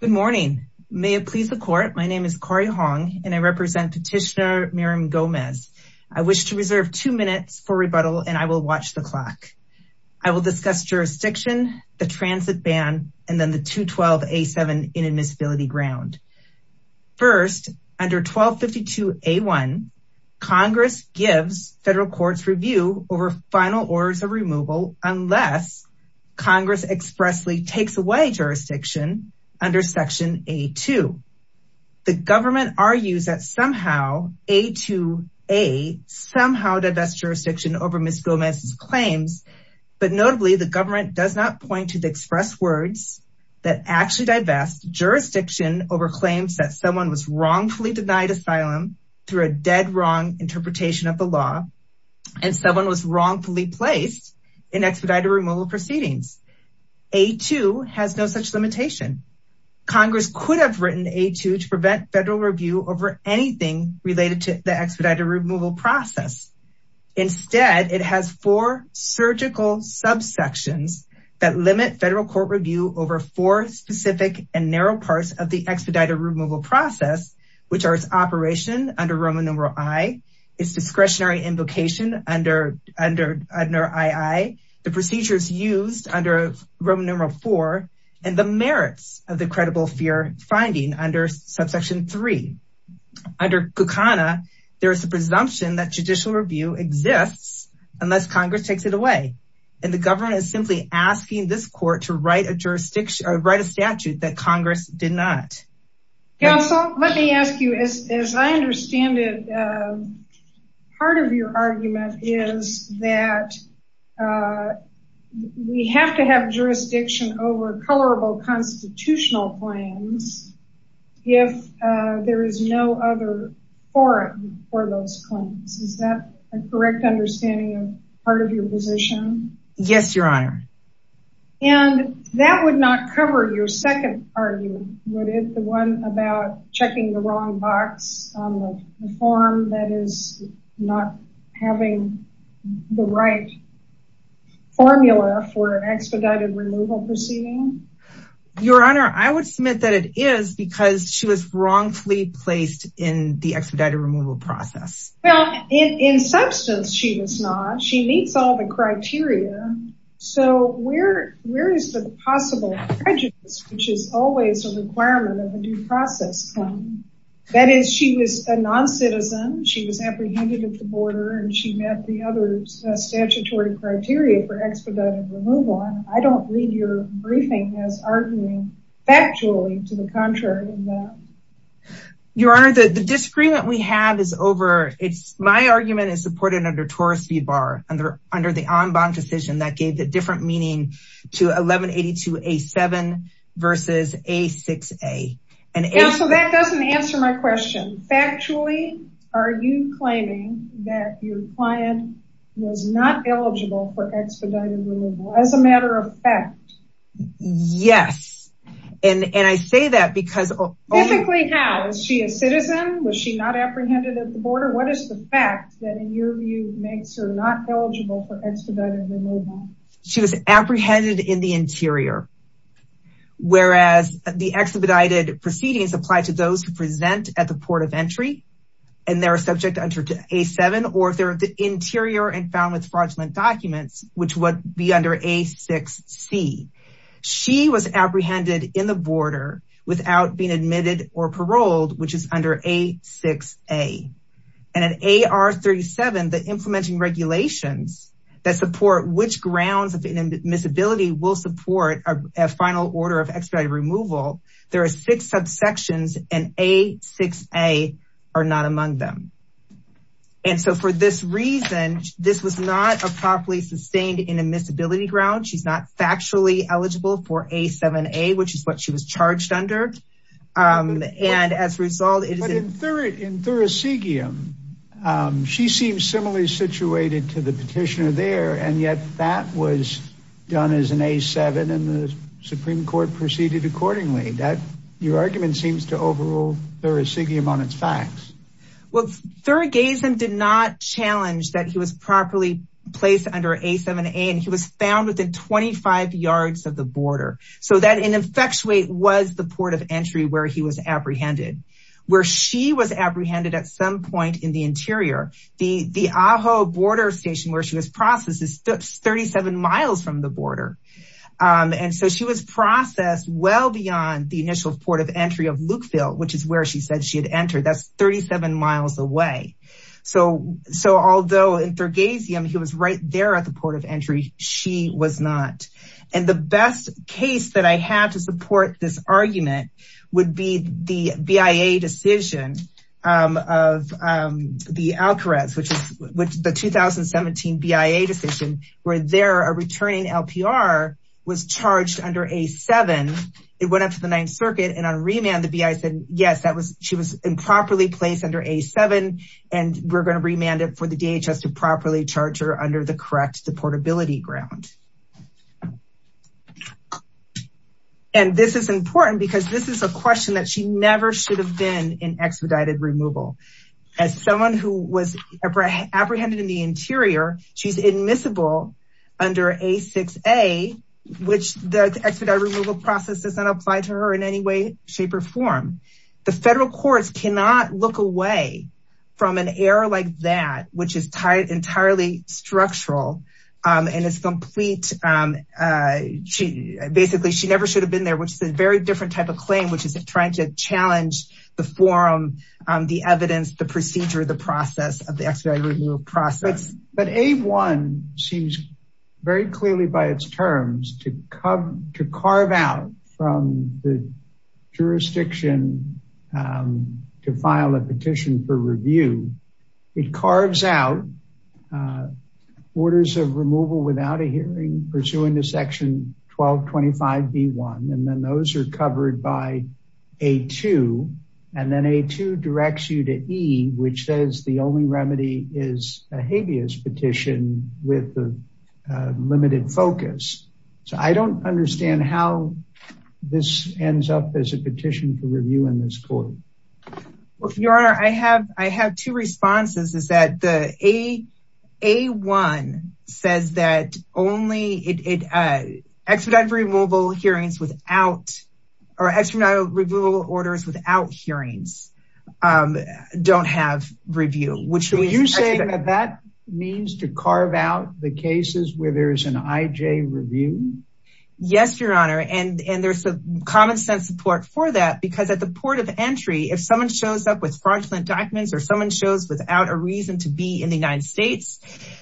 Good morning. May it please the court. My name is Corrie Hong and I represent Petitioner Miriam Gomez. I wish to reserve two minutes for rebuttal and I will watch the clock. I will discuss jurisdiction, the transit ban, and then the 212A7 inadmissibility ground. First, under 1252A1, Congress gives federal courts review over final orders of removal unless Congress expressly takes away jurisdiction under section A2. The government argues that somehow A2A somehow divests jurisdiction over Ms. Gomez's claims, but notably the government does not point to the express words that actually divest jurisdiction over claims that someone was wrongfully denied asylum through a dead wrong interpretation of the law and someone was wrongfully placed in expedited removal proceedings. A2 has no such limitation. Congress could have written A2 to prevent federal review over anything related to the expedited removal process. Instead, it has four surgical subsections that limit federal court review over four specific and narrow parts of the expedited removal process, which are its operation under Roman numeral I, its discretionary invocation under II, the procedures used under Roman numeral IV, and the merits of the credible fear finding under subsection III. Under Kukana, there is a presumption that judicial review exists unless Congress takes it away, and the government is simply asking this court to write a statute that Congress did not. Counsel, let me ask you, as I understand it, part of your argument is that we have to have jurisdiction over colorable constitutional claims if there is no other forum for those claims. Is that a correct understanding of part of your position? Yes, Your Honor. And that would not cover your second argument, would it? The one about checking the wrong box on the form that is not having the right formula for an expedited removal proceeding? Your Honor, I would submit that it is because she was wrongfully placed in the expedited removal process. Well, in substance, she was not. She meets all the criteria. So where is the possible prejudice, which is always a requirement of a due process claim? That is, she was a noncitizen, she was apprehended at the border, and she met the other statutory criteria for expedited removal. I don't read your briefing as arguing factually to the contrary than that. Your Honor, the disagreement we have is over. My argument is supported under Torres v. Barr under the en banc decision that gave the different meaning to 1182A7 versus A6A. Counsel, that doesn't answer my question. Factually, are you claiming that your client was not eligible for expedited removal as a matter of fact? Yes. And I say that because... Specifically, how? Was she a citizen? Was she not apprehended at the border? What is the fact that, in your view, makes her not eligible for expedited removal? She was apprehended in the interior. Whereas the expedited proceedings apply to those who present at the port of entry, and they're subject under A7, or if they're at the interior and found with fraudulent documents, which would be under A6C. She was apprehended in the border without being admitted or paroled, which is under A6A. And in AR 37, the implementing regulations that support which grounds of inadmissibility will support a final order of expedited removal, there are six subsections, and A6A are not among them. And so for this reason, this was not a properly sustained inadmissibility ground. She's not factually eligible for A7A, which is what she was charged under. And as a result... But in Thurisigium, she seems similarly situated to the petitioner there, and yet that was done as an A7, and the Supreme Court proceeded accordingly. Your argument seems to overrule Thurisigium on its facts. Well, Thurigazem did not challenge that he was properly placed under A7A, and he was found within 25 yards of the border. So that in effectuate was the port of entry where he was apprehended. Where she was apprehended at some point in the interior, the Ajo border station where she was processed is 37 miles from the border. And so she was processed well beyond the initial port of entry of Lukeville, which is where she said she had entered, that's 37 miles away. So although in Thurigazem, he was right there at the port of entry, she was not. And the best case that I have to support this argument would be the BIA decision of the Alcarez, which is the 2017 BIA decision, where there a returning LPR was charged under A7. It went up to the Ninth Circuit, and on remand, the BIA said, yes, she was improperly placed under A7, and we're going to remand it for the DHS to properly charge her under the correct portability ground. And this is important because this is a question that she never should have been in expedited removal. As someone who was apprehended in the interior, she's admissible under A6A, which the expedited removal process does not apply to her in any way, shape or form. The federal courts cannot look away from an error like that, which is entirely structural and is complete. Basically, she never should have been there, which is a very different type of claim, which is trying to challenge the forum, the evidence, the procedure, the process of the expedited removal process. But A1 seems very clearly by its terms to carve out from the jurisdiction to file a petition for review. It carves out orders of removal without a hearing pursuant to Section 1225B1, and then those are covered by A2, and then A2 directs you to E, which says the only remedy is a habeas petition with a limited focus. So I don't understand how this ends up as a petition for review in this court. Your Honor, I have two responses. A1 says that expedited removal orders without hearings don't have review. Are you saying that that means to carve out the cases where there's an IJ review? Yes, Your Honor, and there's some common sense support for that because at the port of entry, if someone shows up with fraudulent documents or someone shows without a reason to be in the United States,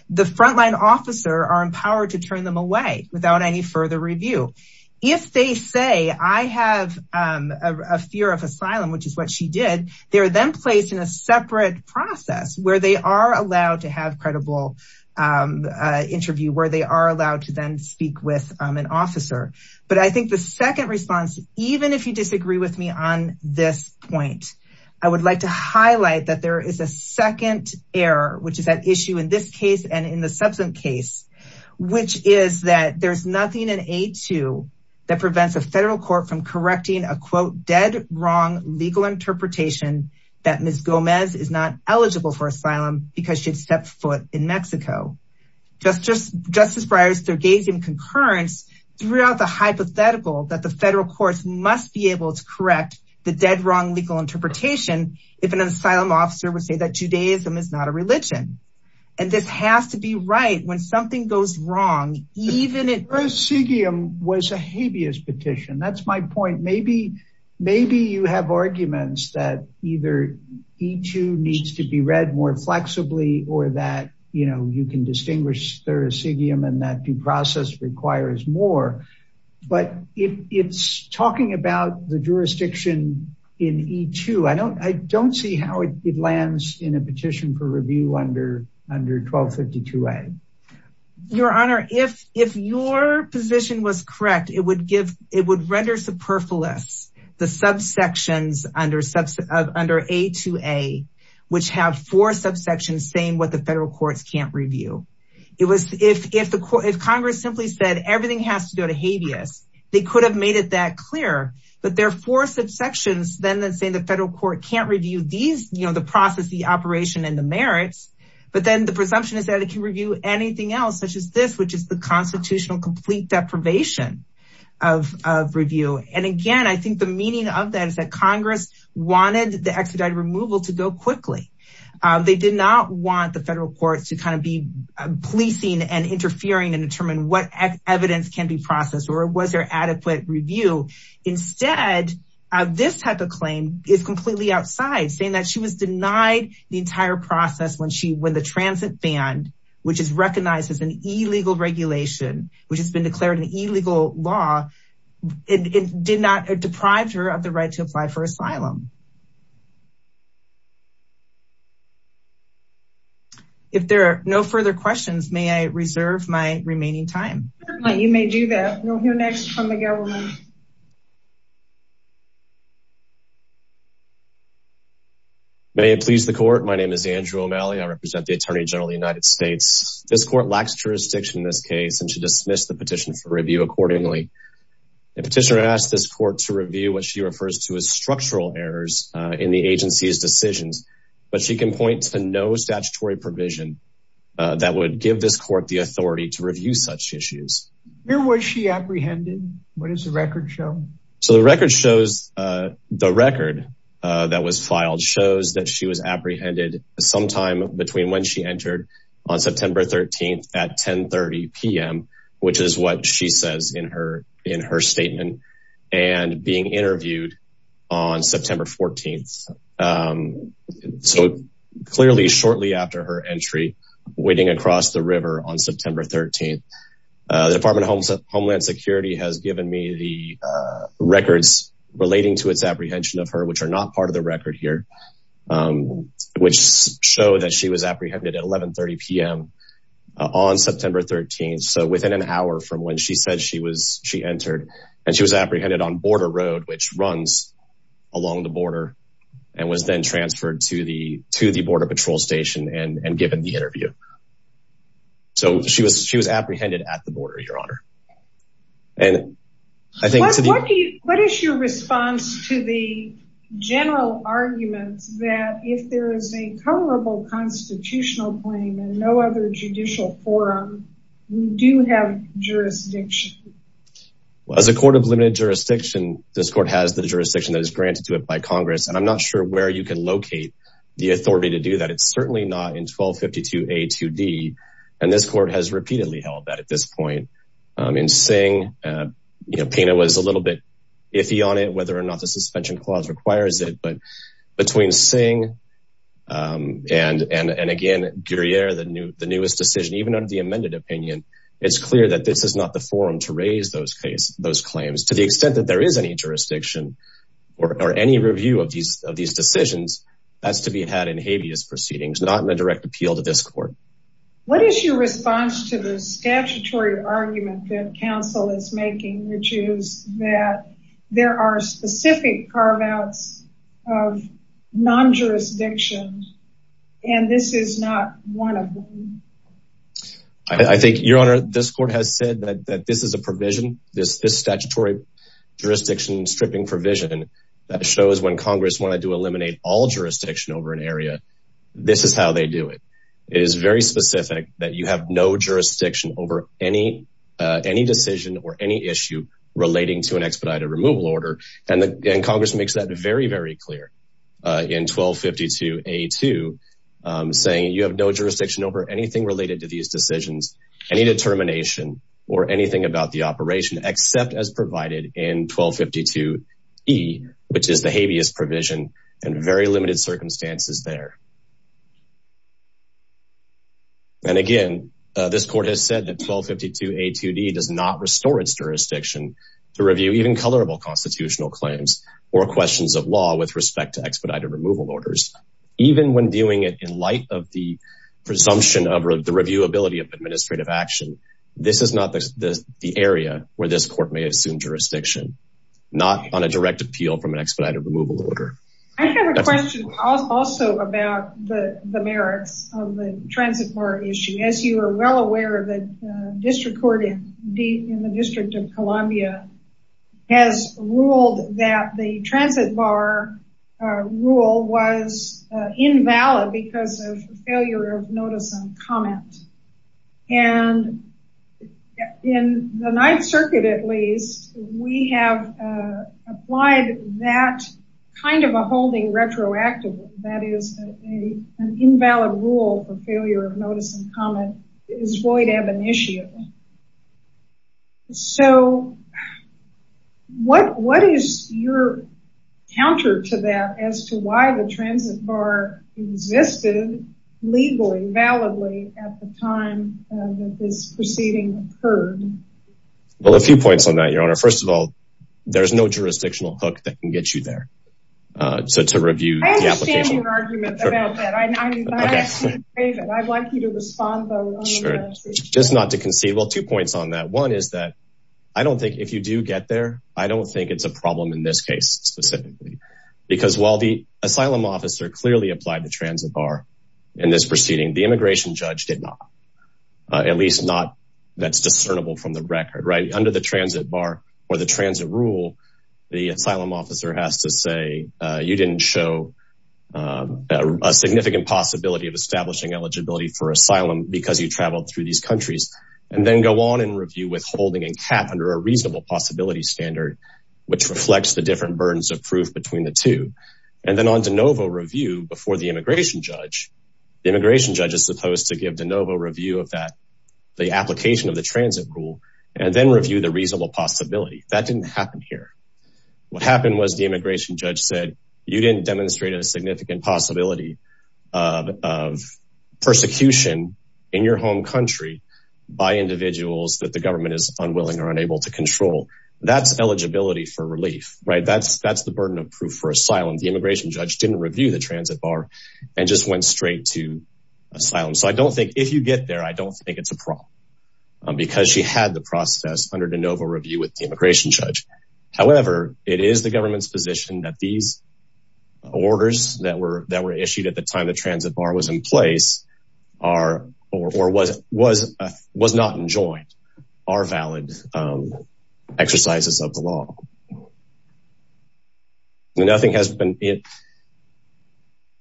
the frontline officer are empowered to turn them away without any further review. If they say, I have a fear of asylum, which is what she did, they are then placed in a separate process where they are allowed to have credible interview, where they are allowed to then speak with an officer. But I think the second response, even if you disagree with me on this point, I would like to highlight that there is a second error, which is at issue in this case and in the substance case, which is that there's nothing in A2 that prevents a federal court from correcting a quote dead wrong legal interpretation that Ms. Gomez is not eligible for asylum because she had stepped foot in Mexico. Justice Breyers, there gave some concurrence throughout the hypothetical that the federal courts must be able to correct the dead wrong legal interpretation if an asylum officer would say that Judaism is not a religion. And this has to be right when something goes wrong, even if... Prosecution was a habeas petition. That's my point. Maybe you have arguments that either E2 needs to be read more flexibly or that, you know, you can distinguish Thurisidium and that due process requires more. But it's talking about the jurisdiction in E2. I don't see how it lands in a petition for review under 1252A. Your Honor, if your position was correct, it would render superfluous the subsections under A2A, which have four subsections saying what the federal courts can't review. If Congress simply said everything has to go to habeas, they could have made it that clear. But there are four subsections then that say the federal court can't review the process, the operation, and the merits. But then the presumption is that it can review anything else such as this, which is the constitutional complete deprivation of review. And again, I think the meaning of that is that Congress wanted the expedited removal to go quickly. They did not want the federal courts to kind of be policing and interfering and determine what evidence can be processed or was there adequate review. Instead, this type of claim is completely outside, saying that she was denied the entire process when the transit ban, which is recognized as an illegal regulation, which has been declared an illegal law, it did not deprive her of the right to apply for asylum. If there are no further questions, may I reserve my remaining time? You may do that. We'll hear next from the government. May it please the court. My name is Andrew O'Malley. I represent the Attorney General of the United States. This court lacks jurisdiction in this case and should dismiss the petition for review accordingly. The petitioner asked this court to review what she refers to as structural errors in the agency's decisions, but she can point to no statutory provision that would give this court the authority to review such issues. Where was she apprehended? What does the record show? So the record shows the record that was filed shows that she was apprehended sometime between when she entered on September 13th at 1030 PM, which is what she says in her, in her statement and being interviewed on September 14th. So clearly, shortly after her entry waiting across the river on September 13th, the Department of Homeland Security has given me the records relating to its apprehension of her, which are not part of the record here, which show that she was apprehended at 1130 PM on September 13th. So within an hour from when she said she was, she entered and she was apprehended on Border Road, which runs along the border and was then transferred to the, to the Border Patrol Station and given the interview. So she was, she was apprehended at the border, Your Honor. And I think. What is your response to the general arguments that if there is a jurisdiction. Well, as a court of limited jurisdiction, this court has the jurisdiction that is granted to it by Congress. And I'm not sure where you can locate the authority to do that. It's certainly not in 1252 A2D. And this court has repeatedly held that at this point in Singh, you know, Pena was a little bit iffy on it, whether or not the suspension clause requires it, but between Singh and, and, and again, Guerriere, the new, the newest decision, even under the amended opinion, it's clear that this is not the forum to raise those case, those claims, to the extent that there is any jurisdiction or any review of these, of these decisions as to be had in habeas proceedings, not in a direct appeal to this court. What is your response to the statutory argument that counsel is making, which is that there are specific carve outs of non-jurisdiction. And this is not one of them. I think your honor, this court has said that, that this is a provision, this, this statutory jurisdiction stripping provision that shows when Congress wanted to eliminate all jurisdiction over an area, this is how they do it. It is very specific that you have no jurisdiction over any, any decision or any issue relating to an expedited removal order. And the Congress makes that very, very clear in 1252 a two saying you have no jurisdiction over anything related to these decisions, any determination or anything about the operation except as provided in 1252 E, which is the habeas provision and very limited circumstances there. And again, this court has said that 1252 a two D does not restore its jurisdiction to constitutional claims or questions of law with respect to expedited removal orders. Even when doing it in light of the presumption of the reviewability of administrative action, this is not the area where this court may assume jurisdiction, not on a direct appeal from an expedited removal order. I have a question also about the, the merits of the transit bar issue. As you are well aware of that district court in D in the district of Louisville, was told that the transit bar rule was invalid because of failure of notice and comment. And in the ninth circuit, at least we have applied that kind of a holding retroactively. That is a, an invalid rule for failure of notice and comment is void of initiative. So what, what is your counter to that as to why the transit bar existed legally validly at the time that this proceeding occurred? Well, a few points on that, your honor. First of all, there's no jurisdictional hook that can get you there. So to review the application, I'd like you to respond. Just not to concede. Well, two points on that. One is that I don't think if you do get there, I don't think it's a problem in this case specifically, because while the asylum officer clearly applied the transit bar in this proceeding, the immigration judge did not, at least not that's discernible from the record, right? Under the transit bar or the transit rule, the asylum officer has to say you didn't show a significant possibility of establishing eligibility for asylum because you traveled through these countries and then go on and review withholding and cap under a reasonable possibility standard, which reflects the different burdens of proof between the two. And then on DeNovo review before the immigration judge, the immigration judge is supposed to give DeNovo review of that, the application of the transit rule, and then review the reasonable possibility that didn't happen here. What happened was the immigration judge said you didn't demonstrate a significant possibility of persecution in your home country by individuals that the government is unwilling or unable to control. That's eligibility for relief, right? That's, that's the burden of proof for asylum. The immigration judge didn't review the transit bar and just went straight to asylum. So I don't think if you get there, I don't think it's a problem. Because she had the process under DeNovo review with the immigration judge. However, it is the government's position that these orders that were, that were issued at the time, the transit bar was in place are or was, was, was not enjoined are valid exercises of the law. Nothing has been.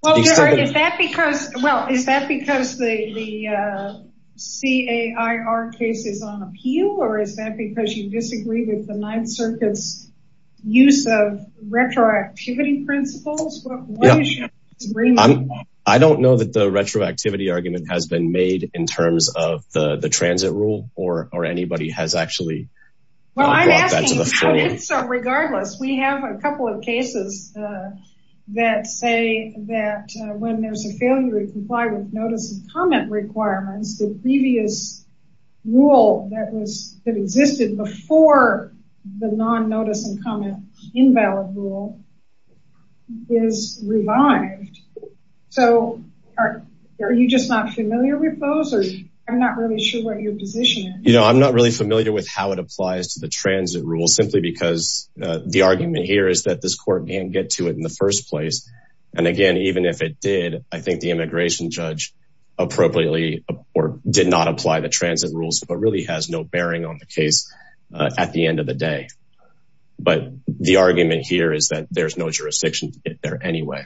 Well, is that because, well, is that because the CAIR case is on appeal, or is that because you disagree with the ninth circuits use of retroactivity principles? I don't know that the retroactivity argument has been made in terms of the, the transit rule or, or anybody has actually. Well, I'm asking, regardless, we have a couple of cases. That say that when there's a failure to comply with notice and comment requirements, the previous rule that was that existed before the non notice and comment invalid rule is revived. So are you just not familiar with those, or I'm not really sure what your position is. I'm not really familiar with how it applies to the transit rule simply because the argument here is that this court can't get to it in the first place. And again, even if it did, I think the immigration judge appropriately or did not apply the transit rules, but really has no bearing on the case at the end of the day. But the argument here is that there's no jurisdiction there anyway.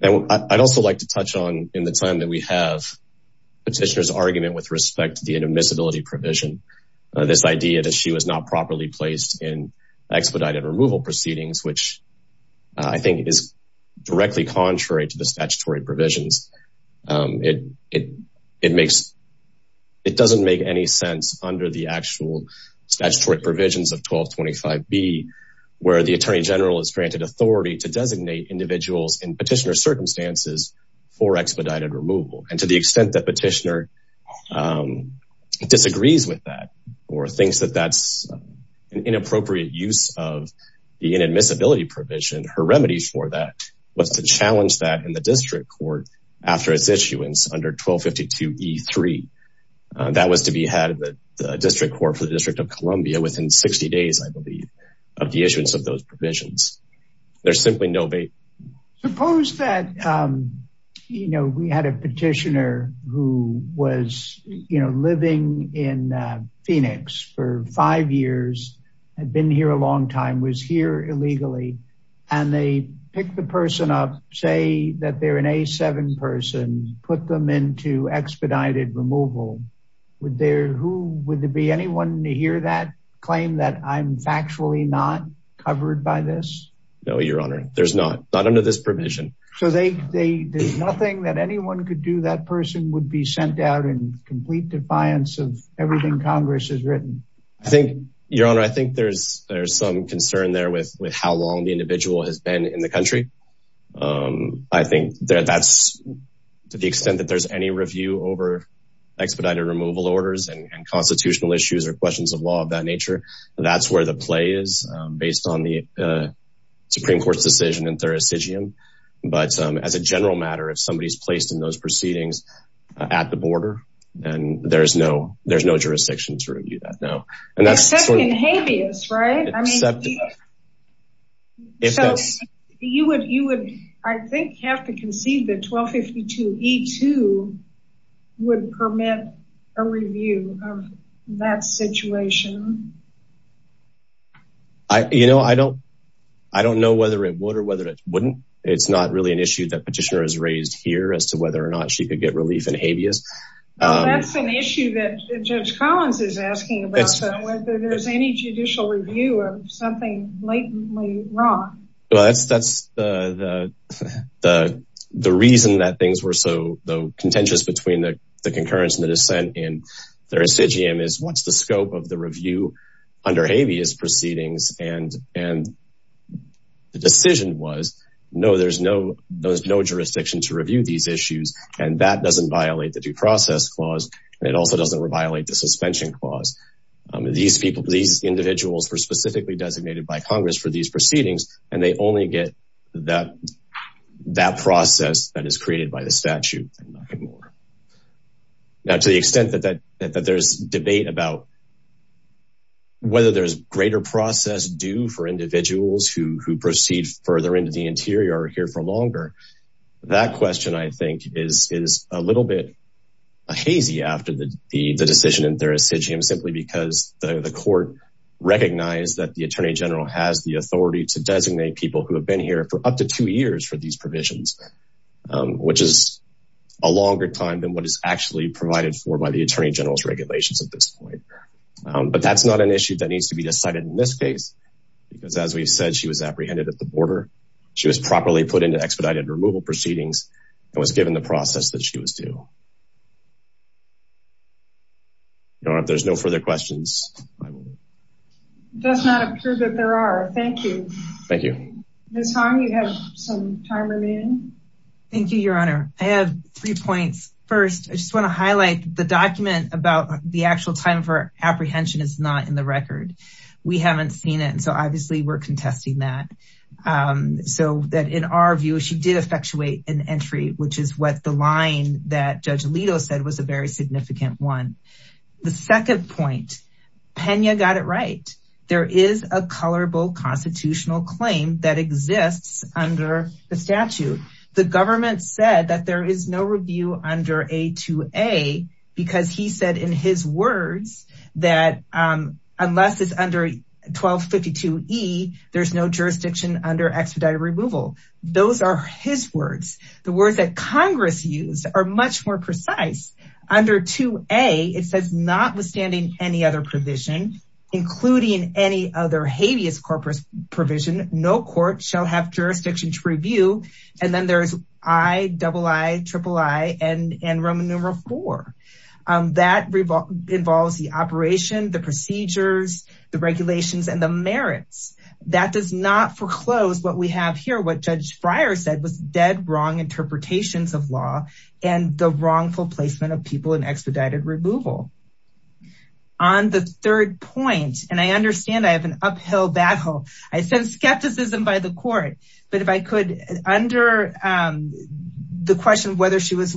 And I'd also like to touch on in the time that we have petitioners argument with respect to the intermissibility provision, this idea that she was not properly placed in expedited removal proceedings, which I think is directly contrary to the statutory provisions. It, it, it makes, it doesn't make any sense under the actual statutory provisions of 1225 B where the attorney general is granted authority to designate individuals in petitioner circumstances for expedited removal. And to the extent that petitioner disagrees with that or thinks that that's an inappropriate use of the inadmissibility provision, her remedy for that was to challenge that in the district court after its issuance under 1252 E3, that was to be had at the district court for the district of Columbia within 60 days, I believe, of the issuance of those provisions. There's simply no way. Suppose that, um, you know, we had a petitioner who was, you know, living in Phoenix for five years, had been here a long time, was here illegally. And they pick the person up, say that they're an A7 person, put them into expedited removal. Would there, who would there be anyone to hear that claim that I'm factually not covered by this? No, Your Honor. There's not, not under this provision. So they, there's nothing that anyone could do. That person would be sent out in complete defiance of everything Congress has written. I think, Your Honor, I think there's, there's some concern there with, with how long the individual has been in the country. Um, I think that that's to the extent that there's any review over expedited removal orders and constitutional issues or questions of law of that nature. That's where the play is, um, based on the, uh, Supreme Court's decision in Thurisdgian. But, um, as a general matter, if somebody is placed in those proceedings at the border and there's no, there's no jurisdiction to review that now. Except in habeas, right? I mean, you would, you would, I think, have to concede that 1252E2 would permit a review of that situation. I, you know, I don't, I don't know whether it would or whether it wouldn't. It's not really an issue that petitioner has raised here as to whether or not she could get relief in habeas. That's an issue that Judge Collins is asking about, whether there's any judicial review of something blatantly wrong. Well, that's, that's the, the, the, the reason that things were so contentious between the concurrence and the dissent in Thurisdgian is what's the scope of the review? Under habeas proceedings and, and the decision was, no, there's no, there's no jurisdiction to review these issues. And that doesn't violate the due process clause. And it also doesn't violate the suspension clause. These people, these individuals were specifically designated by Congress for these proceedings, and they only get that, that process that is created by the statute and nothing more. Now, to the extent that, that, that, that there's debate about whether there's greater process due for individuals who, who proceed further into the interior or here for longer, that question I think is, is a little bit hazy after the, the, the decision in Thurisdgian simply because the court recognized that the attorney general has the authority to designate people who have been here for up to two years for these provisions, which is a longer time than what is actually provided for by the attorney general's regulations at this point. But that's not an issue that needs to be decided in this case, because as we've said, she was apprehended at the border. She was properly put into expedited removal proceedings and was given the process that she was due. If there's no further questions. It does not appear that there are. Thank you. Thank you. Ms. Hong, you have some time remaining. Thank you, your honor. I have three points. First, I just want to highlight the document about the actual time of her apprehension is not in the record. We haven't seen it. And so obviously we're contesting that. So that in our view, she did effectuate an entry, which is what the line that judge Alito said was a very significant one. The second point, Pena got it right. There is a colorable constitutional claim that exists under the statute. The government said that there is no review under a two a because he said in his words that unless it's under 1252 E there's no jurisdiction under expedited removal. Those are his words. The words that Congress used are much more precise under two a it says not being any other habeas corpus provision, no court shall have jurisdiction to review. And then there's I double I triple I and, and Roman numeral four that involves the operation, the procedures, the regulations, and the merits that does not foreclose. What we have here, what judge Friar said was dead wrong interpretations of law and the wrongful placement of people in expedited removal on the third point. And I understand I have an uphill battle. I send skepticism by the court, but if I could under the question of whether she was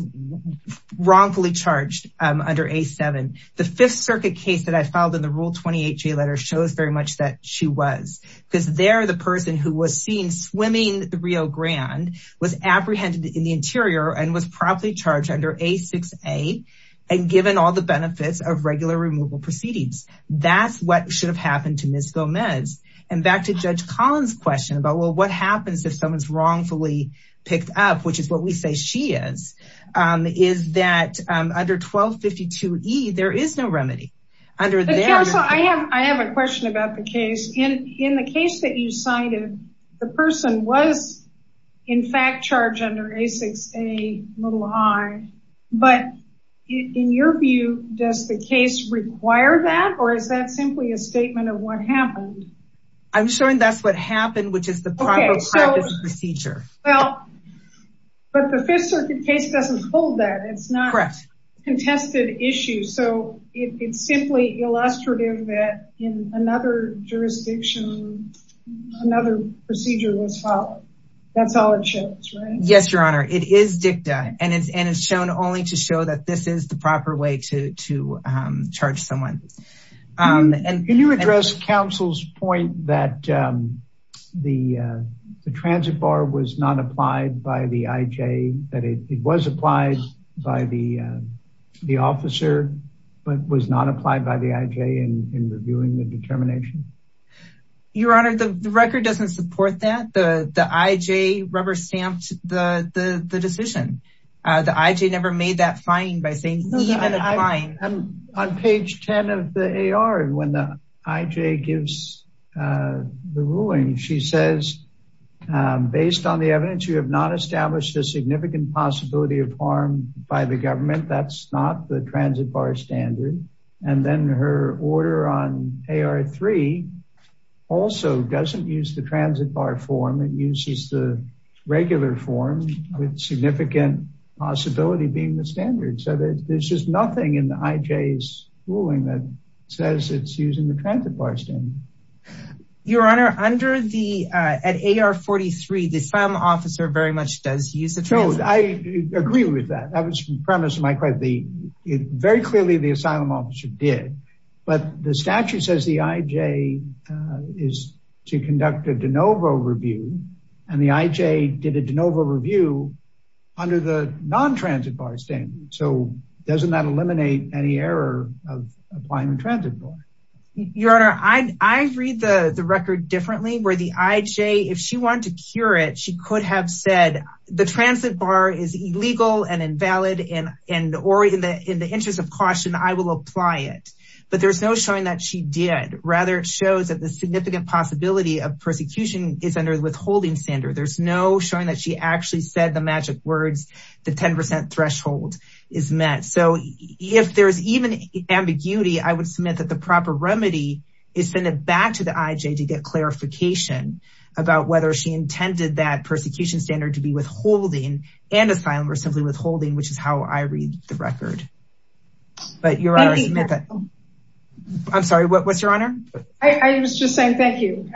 wrongfully charged under a seven, the fifth circuit case that I filed in the rule 28 J letter shows very much that she was because they're the person who was seen swimming the Rio Grande was apprehended in the interior and was properly charged under a six a and given all the benefits of regular removal proceedings. That's what should have happened to miss Gomez. And back to judge Collins question about, well, what happens if someone's wrongfully picked up, which is what we say she is is that under 1252 E, there is no remedy under there. So I have, I have a question about the case in, in the case that you cited, the person was in fact charged under a six, a little high, but in your view, does the case require that or is that simply a statement of what happened? I'm showing that's what happened, which is the procedure. Well, but the fifth circuit case doesn't hold that it's not contested issues. So it's simply illustrative that in another jurisdiction, another procedure was followed. That's all it shows. Yes, Your Honor. It is dicta and it's, and it's shown only to show that this is the proper way to, to charge someone. And can you address counsel's point that the, the transit bar was not applied by the IJ that it was applied by the, the officer, but was not applied by the IJ in reviewing the determination. Your Honor, the record doesn't support that. The, the IJ rubber stamped the, the, the decision, the IJ never made that finding by saying. On page 10 of the AR and when the IJ gives the ruling, she says, based on the evidence, you have not established a significant possibility of harm by the government. That's not the transit bar standard. And then her order on AR three also doesn't use the transit bar form. It uses the regular form with significant possibility, being the standard. So there's just nothing in the IJ's ruling that says it's using the transit bar standard. Your Honor, under the, at AR 43, the asylum officer very much does use the transit bar standard. I agree with that. That was premise of my question. Very clearly the asylum officer did, but the statute says the IJ is to conduct a de novo review. And the IJ did a de novo review under the non-transit bar standard. So doesn't that eliminate any error of applying the transit bar? Your Honor, I, I read the record differently where the IJ, if she wanted to cure it, she could have said the transit bar is illegal and invalid. And, and, or in the, in the interest of caution, I will apply it, but there's no showing that she did. Rather it shows that the significant possibility of persecution is under withholding standard. There's no showing that she actually said the magic words, the 10% threshold is met. So if there's even ambiguity, I would submit that the proper remedy is send it back to the IJ to get clarification about whether she intended that persecution standard to be withholding and asylum or simply withholding, which is how I read the record. But Your Honor, I'm sorry. What's Your Honor? I was just saying, thank you.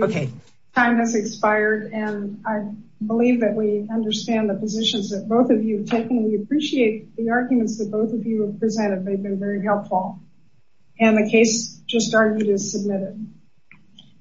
Okay. Time has expired and I believe that we understand the positions that both of you have taken. We appreciate the arguments that both of you have presented. They've been very helpful and the case just argued is submitted.